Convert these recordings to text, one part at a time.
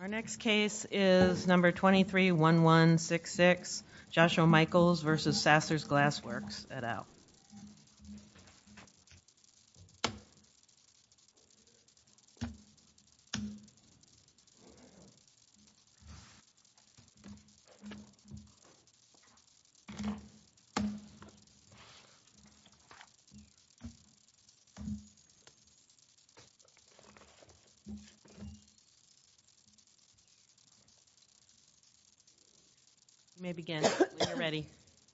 Our next case is number 231166, Joshua Michaels v. Sassers Glass Works, et al.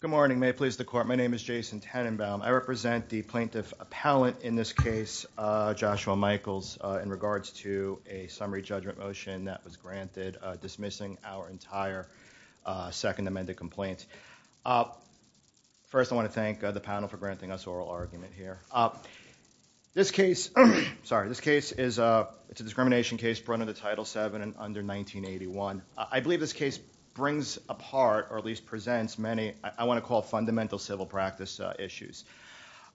Good morning. May it please the court, my name is Jason Tenenbaum. I represent the plaintiff appellant in this case, Joshua Michaels, in regards to a summary judgment motion that was granted dismissing our entire second amended complaint. First, I want to thank the panel for granting us oral argument here. This case, sorry, this case is a discrimination case brought into Title VII under 1981. I believe this case brings apart or at least presents many, I want to call fundamental civil practice issues.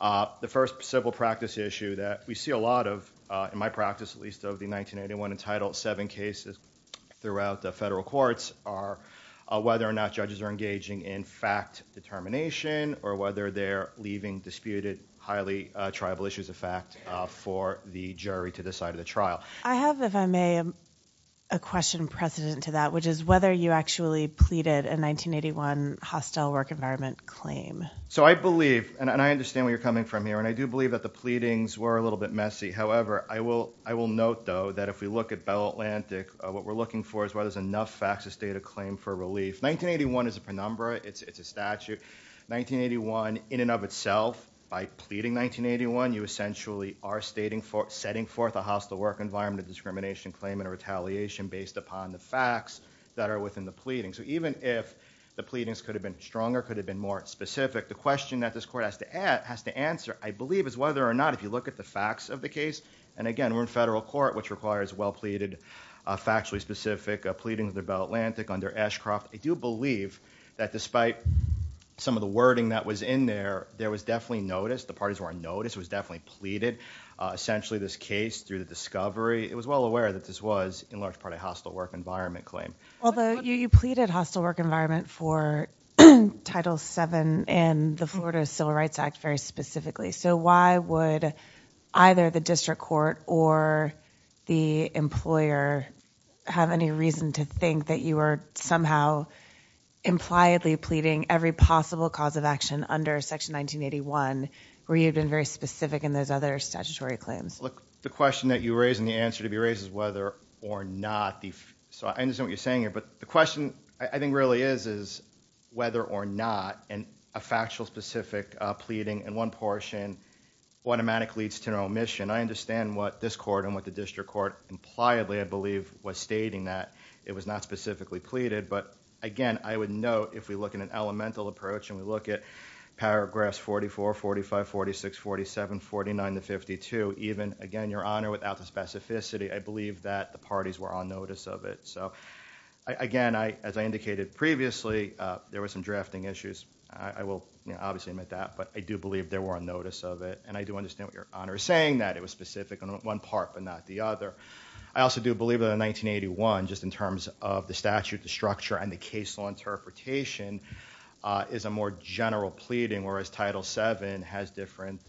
The first civil practice issue that we see a lot of, in my practice at least, of the 1981 and Title VII cases throughout the federal courts are whether or not judges are engaging in fact determination or whether they're leaving disputed highly tribal issues of fact for the jury to decide in the trial. I have, if I may, a question precedent to that, which is whether you actually pleaded a 1981 hostile work environment claim. So I believe, and I understand where you're coming from here, and I do believe that the pleadings were a little bit messy. However, I will note though that if we look at Bell Atlantic, what we're looking for is whether there's enough facts to state a claim for relief. 1981 is a penumbra. It's a statute. 1981 in and of itself, by pleading 1981, you essentially are setting forth a hostile work environment of discrimination claim and retaliation based upon the facts that are within the pleadings. So even if the pleadings could have been stronger, could have been more specific, the question that this court has to answer, I believe, is whether or not if you look at the facts of the case, and again, we're in federal court, which requires well pleaded, factually specific a pleading of the Bell Atlantic under Ashcroft. I do believe that despite some of the wording that was in there, there was definitely notice. The parties were on notice. It was definitely pleaded. Essentially, this case through the discovery, it was well aware that this was in large part a hostile work environment claim. Although you pleaded hostile work environment for Title VII and the Florida Civil Rights Act very specifically. So why would either the district court or the employer have any reason to think that you were somehow impliedly pleading every possible cause of action under Section 1981, where you've been very specific in those other statutory claims? Look, the question that you raise and the answer to be raised is whether or not. So I understand what you're saying here, but the question I think really is, is whether or not a factual specific pleading in one portion automatically leads to an omission. I understand what this court and what the district court impliedly, I believe, was stating that it was not specifically pleaded. But again, I would note if we look at an elemental approach and we look at paragraphs 44, 45, 46, 47, 49 to 52, even again, Your Honor, without the specificity, I believe that the parties were on notice of it. So again, as I indicated previously, there were some drafting issues. I will obviously admit that, but I do believe there were on notice of it. And I do understand what Your Honor is saying, that it was specific on one part but not the other. I also do believe that in 1981, just in terms of the statute, the structure, and the case law interpretation, is a more general pleading, whereas Title VII has different,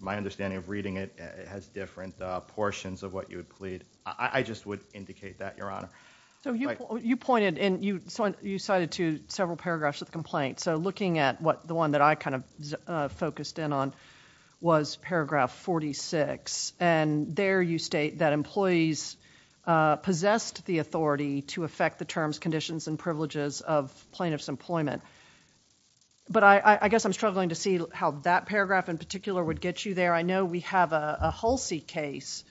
my understanding of reading it, it has different portions of what you would plead. I just would indicate that, Your Honor. So you pointed and you cited to several paragraphs of the complaint. So looking at what the one that I kind of focused in on was paragraph 46. And there you state that employees possessed the authority to affect the terms, conditions, and privileges of plaintiff's employment. But I guess I'm struggling to see how that paragraph in particular would get you there. I know we have a Hulsey case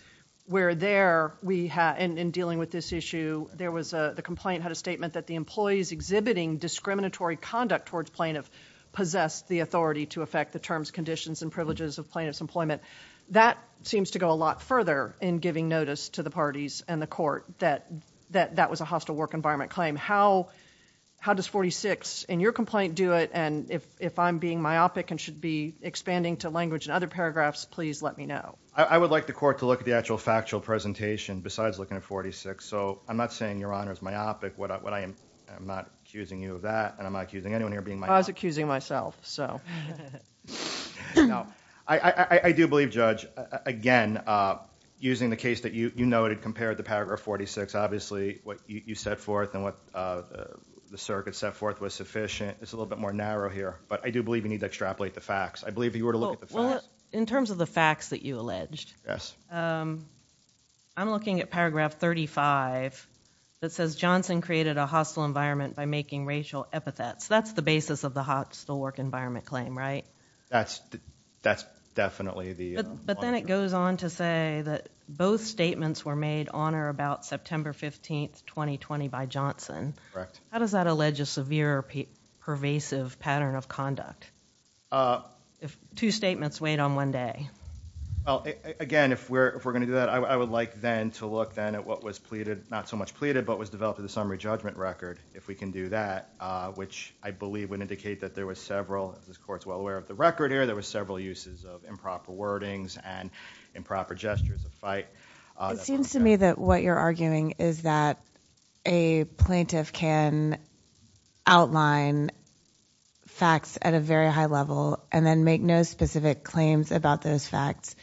where there, in dealing with this issue, the complaint had a statement that the employees exhibiting discriminatory conduct towards plaintiff possessed the authority to affect the terms, conditions, and privileges of plaintiff's employment. That seems to go a lot further in giving notice to the parties and the court that that was a hostile work environment claim. How does 46 in your complaint do it? And if I'm being myopic and should be expanding to language and other paragraphs, please let me know. I would like the court to look at the actual factual presentation besides looking at 46. So I'm not saying Your Honor is myopic. I'm not accusing you of that. And I'm not accusing anyone here being myopic. I was accusing myself, so. I do believe, Judge, again, using the case that you noted compared to Paragraph 46, obviously what you set forth and what the circuit set forth was sufficient. It's a little bit more narrow here. But I do believe you need to extrapolate the facts. I believe you were to look at the facts. Well, in terms of the facts that you alleged, I'm looking at Paragraph 35 that says Johnson created a hostile environment by making racial epithets. That's the basis of the hostile work environment claim, right? That's definitely the... But then it goes on to say that both statements were made on or about September 15th, 2020 by Johnson. Correct. How does that allege a severe or pervasive pattern of conduct? If two statements weighed on one day? Well, again, if we're going to do that, I would like then to look then at what was pleaded, not so much pleaded, but was developed as a summary judgment record, if we can do that, which I believe would indicate that there was several, if this Court's well aware of the record here, there was several uses of improper wordings and improper gestures of It seems to me that what you're arguing is that a plaintiff can outline facts at a very high level and then make no specific claims about those facts.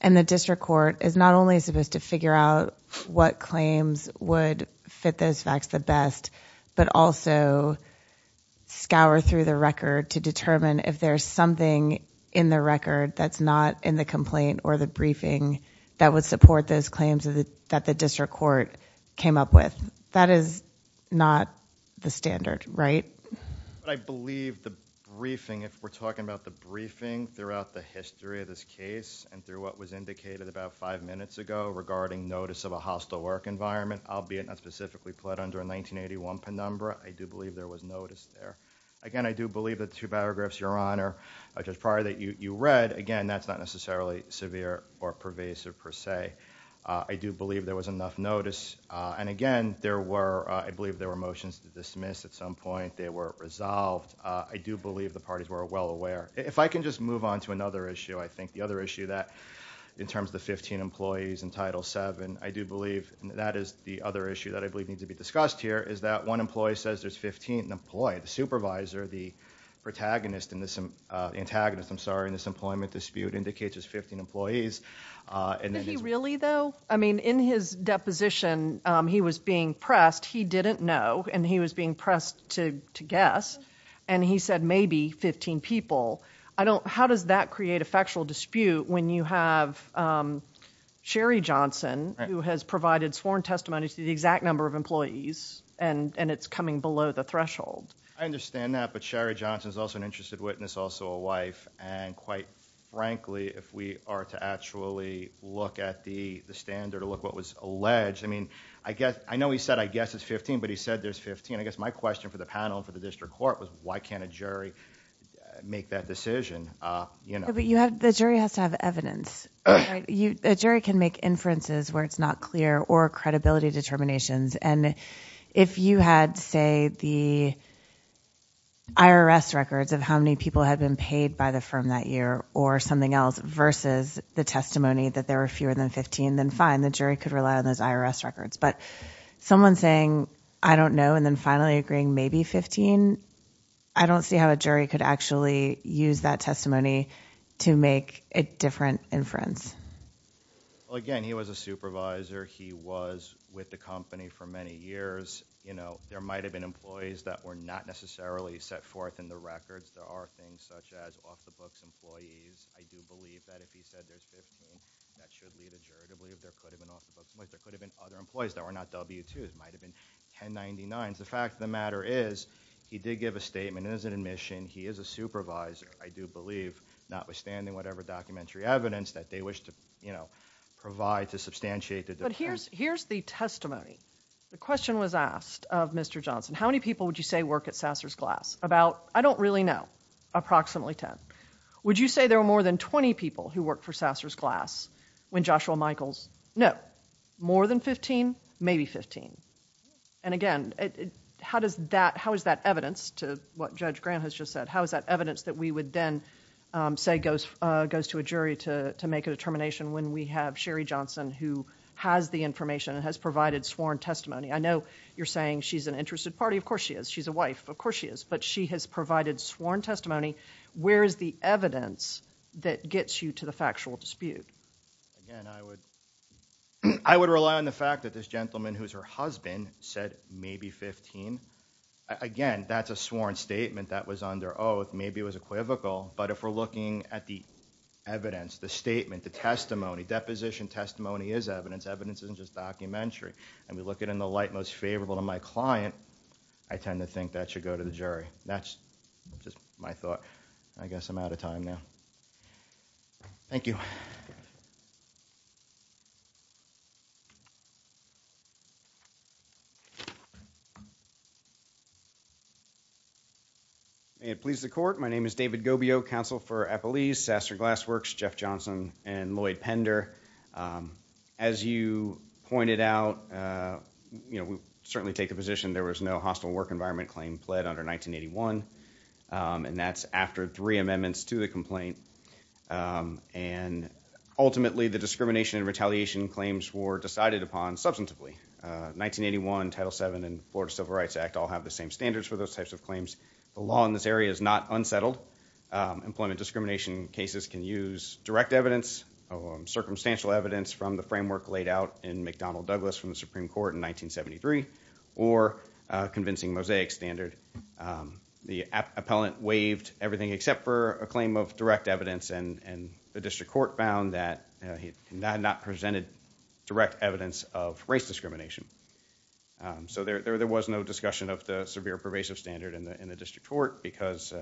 And the district court is not only supposed to figure out what claims would fit those facts the best, but also scour through the record to determine if there's something in the record that's not in the complaint or the briefing that would support those claims that the district court came up with. That is not the standard, right? I believe the briefing, if we're talking about the briefing throughout the history of this case and through what was indicated about five minutes ago regarding notice of a hostile work environment, albeit not specifically pled under a 1981 penumbra, I do believe there was notice there. Again, I do believe that the two paragraphs, Your Honor, just prior that you read, again, that's not necessarily severe or pervasive per se. I do believe there was enough notice. And again, there were, I believe there were motions to dismiss at some point, they were resolved. I do believe the parties were well aware. If I can just move on to another issue, I think the other issue that in terms of the 15 employees in title seven, I do believe that is the other issue that I believe needs to be discussed here is that one employee says there's 15 employees, the supervisor, the protagonist in this, uh, antagonist, I'm sorry, in this employment dispute indicates there's 15 employees. And then really though, I mean, in his deposition, um, he was being pressed, he didn't know, and he was being pressed to, to guess. And he said maybe 15 people. I don't, how does that create a factual dispute when you have, um, Sherry Johnson who has provided sworn testimony to the exact number of employees and, and it's coming below the threshold. I understand that. But Sherry Johnson is also an interested witness, also a wife. And quite frankly, if we are to actually look at the standard or look what was alleged, I mean, I guess, I know he said, I guess it's 15, but he said there's 15. I guess my question for the panel and for the district court was why can't a jury make that decision? Uh, you know, but you have, the jury has to have evidence, right? You, a jury can make inferences where it's not clear or credibility determinations. And if you had say the IRS records of how many people had been paid by the firm that year or something else versus the testimony that there were fewer than 15, then fine. The jury could rely on those IRS records. But someone saying, I don't know. And then finally agreeing, maybe 15. I don't see how a jury could actually use that testimony to make a different inference. Well, again, he was a supervisor. He was with the company for many years. You know, there might've been employees that were not necessarily set forth in the records. There are things such as off the books employees. I do believe that if he said there's 15, that should lead a jury to believe there could have been off the books. There could have been other employees that were not W2s. It might've been 1099s. The fact of the matter is he did give a statement as an admission. He is a supervisor, I do believe, notwithstanding whatever documentary evidence that they wish to, you know, provide to substantiate the difference. But here's, here's the testimony. The question was asked of Mr. Johnson, how many people would you say work at Sasser's Glass? About, I don't really know. Approximately 10. Would you say there were more than 20 people who worked for Sasser's Glass when Joshua Michaels? No. More than 15? Maybe 15. And again, how does that, how is that evidence to what Judge Grant has just said? How is that evidence that we would then say goes, goes to a jury to make a determination when we have Sherry Johnson who has the information and has provided sworn testimony? I know you're saying she's an interested party. Of course she is. She's a wife. Of course she is. But she has provided sworn testimony. Where's the evidence that gets you to the factual dispute? Again, I would, I would rely on the fact that this gentleman who's her husband said maybe 15. Again, that's a sworn statement that was under oath. Maybe it was equivocal, but if we're looking at the evidence, the statement, the testimony, deposition testimony is evidence. Evidence isn't just documentary. And we look at it in the light most favorable to my client, I tend to think that should go to the jury. That's just my thought. I guess I'm out of time now. Thank you. May it please the court. My name is David Gobio, counsel for Eppley's, Sasser Glass Works, Jeff Johnson, and Lloyd Pender. As you pointed out, you know, we certainly take a position there was no hostile work environment claim pled under 1981. And that's after three amendments to the complaint. And ultimately the discrimination and retaliation claims were decided upon substantively. 1981, Title VII, and Florida Civil Rights Act all have the same standards for those types of claims. The law in this area is not unsettled. Employment discrimination cases can use direct evidence, circumstantial evidence from the framework laid out in McDonnell Douglas from the Supreme Court in 1973, or convincing mosaic standard. The appellant waived everything except for a claim of direct evidence and the district court found that he had not presented direct evidence of race discrimination. So there was no discussion of the severe pervasive standard in the district court because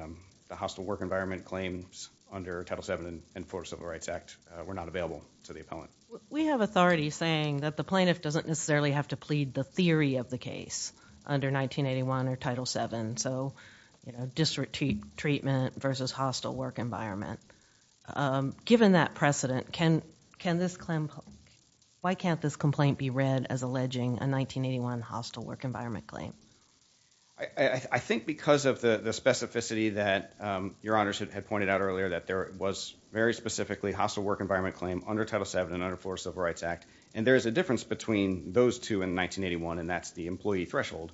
the hostile work environment claims under Title VII and Florida Civil Rights Act were not available to the appellant. We have authority saying that the plaintiff doesn't necessarily have to plead the theory of the case under 1981 or Title VII. So district treatment versus hostile work environment. Given that precedent, can this claim, why can't this complaint be read as alleging a 1981 hostile work environment claim? I think because of the specificity that your honors had pointed out earlier that there was very specifically hostile work environment claim under Title VII and under Florida Civil Rights Act and there is a difference between those two in 1981 and that's the employee threshold.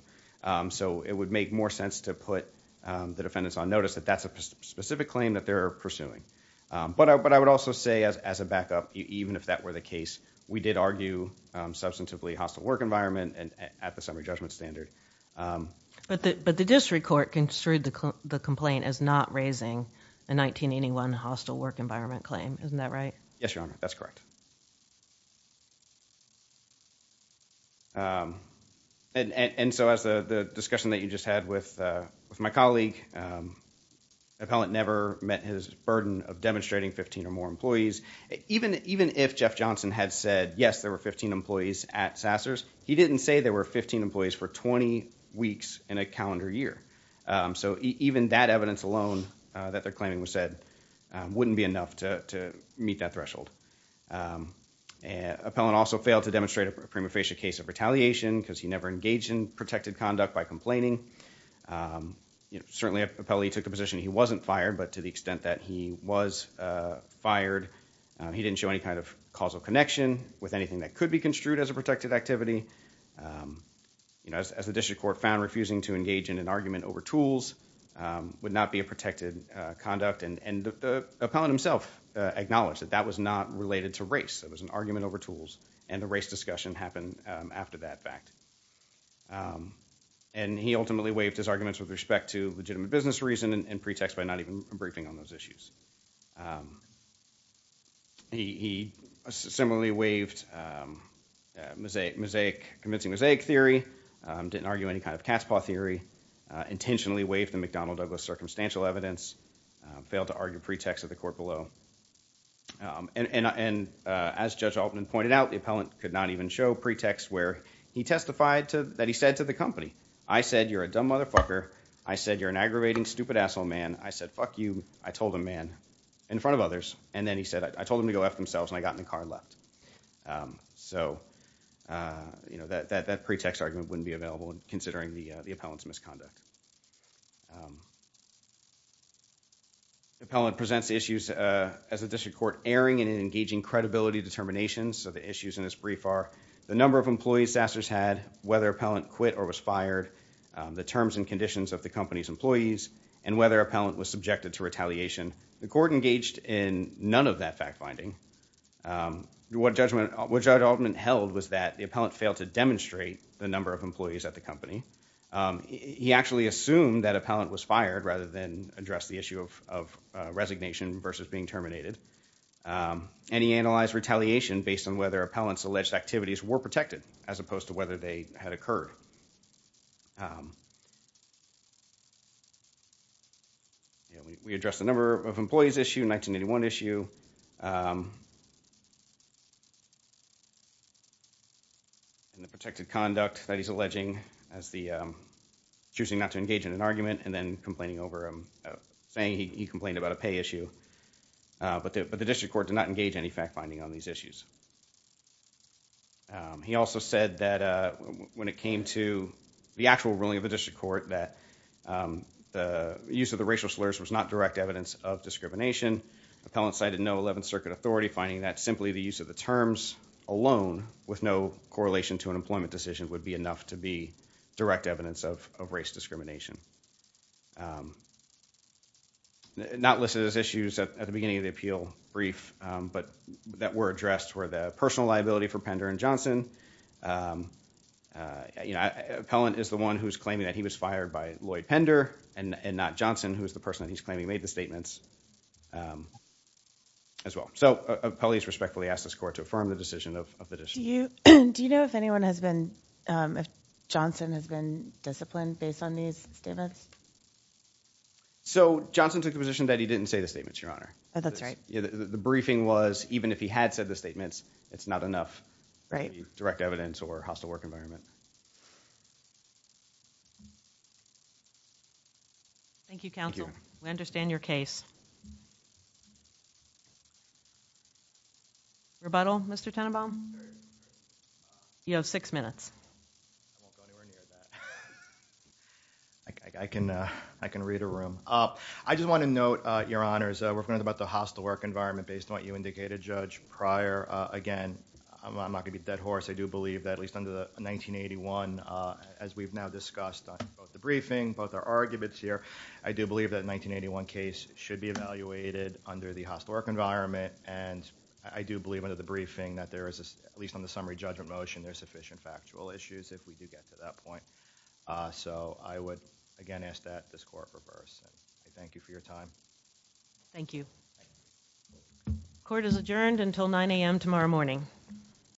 So it would make more sense to put the defendants on notice that that's a specific claim that they're pursuing. But I would also say as a backup, even if that were the case, we did argue substantively hostile work environment at the summary judgment standard. But the district court construed the complaint as not raising a 1981 hostile work environment claim. Isn't that right? Yes, your honor. That's correct. And so as the discussion that you just had with my colleague, the appellant never met his burden of demonstrating 15 or more employees. Even if Jeff Johnson had said, yes, there were 15 employees at Sasser's, he didn't say there were 15 employees for 20 weeks in a calendar year. So even that evidence alone that they're claiming was said wouldn't be enough to meet that threshold. Appellant also failed to demonstrate a prima facie case of retaliation because he never engaged in protected conduct by complaining. Certainly, appellee took the position he wasn't fired, but to the extent that he was fired, he didn't show any kind of causal connection with anything that could be construed as a protected activity. As the district court found, refusing to engage in an argument over tools would not be a protected conduct. And the appellant himself acknowledged that that was not related to race. It was an argument over tools and the race discussion happened after that fact. And he ultimately waived his arguments with respect to legitimate business reason and pretext by not even briefing on those issues. He similarly waived mosaic theory, didn't argue any kind of cat's paw theory, intentionally waived the McDonnell Douglas circumstantial evidence, failed to argue pretext at the court below. And as Judge Altman pointed out, the appellant could not even show pretext where he testified that he said to the company, I said you're a dumb motherfucker, I said you're an aggravating stupid asshole man, I said fuck you, I told a man in front of others, and then he said I told them to go F themselves and I got in the car and left. So, you know, that pretext argument wouldn't be available considering the appellant's misconduct. The appellant presents issues as a district court erring in an engaging credibility determination. So the issues in this brief are the number of employees Sasser's had, whether appellant quit or was fired, the terms and conditions of the company's employees, and whether appellant was subjected to retaliation. The court engaged in none of that fact finding. What Judge Altman held was that the appellant failed to demonstrate the number of employees at the company. He actually assumed that appellant was fired rather than address the issue of resignation versus being terminated. And he analyzed retaliation based on whether appellant's alleged activities were protected as opposed to whether they had occurred. We addressed the number of employees issue, 1981 issue, and the protected conduct that he's alleging as the choosing not to engage in an argument and then complaining over him saying he complained about a pay issue. But the district court did not engage any fact finding on these issues. He also said that when it came to the actual ruling of the district court that the use of the racial slurs was not direct evidence of discrimination. Appellant cited no 11th Circuit authority finding that simply the use of the terms alone with no correlation to an employment decision would be enough to be direct evidence of race that were addressed were the personal liability for Pender and Johnson. Appellant is the one who's claiming that he was fired by Lloyd Pender and not Johnson who is the person he's claiming made the statements as well. So appellant respectfully asked this court to affirm the decision of the district. Do you know if Johnson has been disciplined based on these statements? So Johnson took the position that he didn't say the statements, your honor. That's right. The briefing was even if he had said the statements, it's not enough, right? Direct evidence or hostile work environment. Thank you. Council. We understand your case. Rebuttal. Mr Tenenbaum, you have six minutes. I can I can read a room. I just want to note your honors. We're going to be talking about the hostile work environment based on what you indicated, Judge Pryor. Again, I'm not going to be a dead horse. I do believe that at least under the 1981, as we've now discussed the briefing, both our arguments here, I do believe that 1981 case should be evaluated under the hostile work environment. And I do believe under the briefing that there is, at least on the summary judgment motion, there's sufficient factual issues if we do get to that point. So I would again ask that this court reverse. Thank you for your time. Court is adjourned until 9 a.m. tomorrow morning.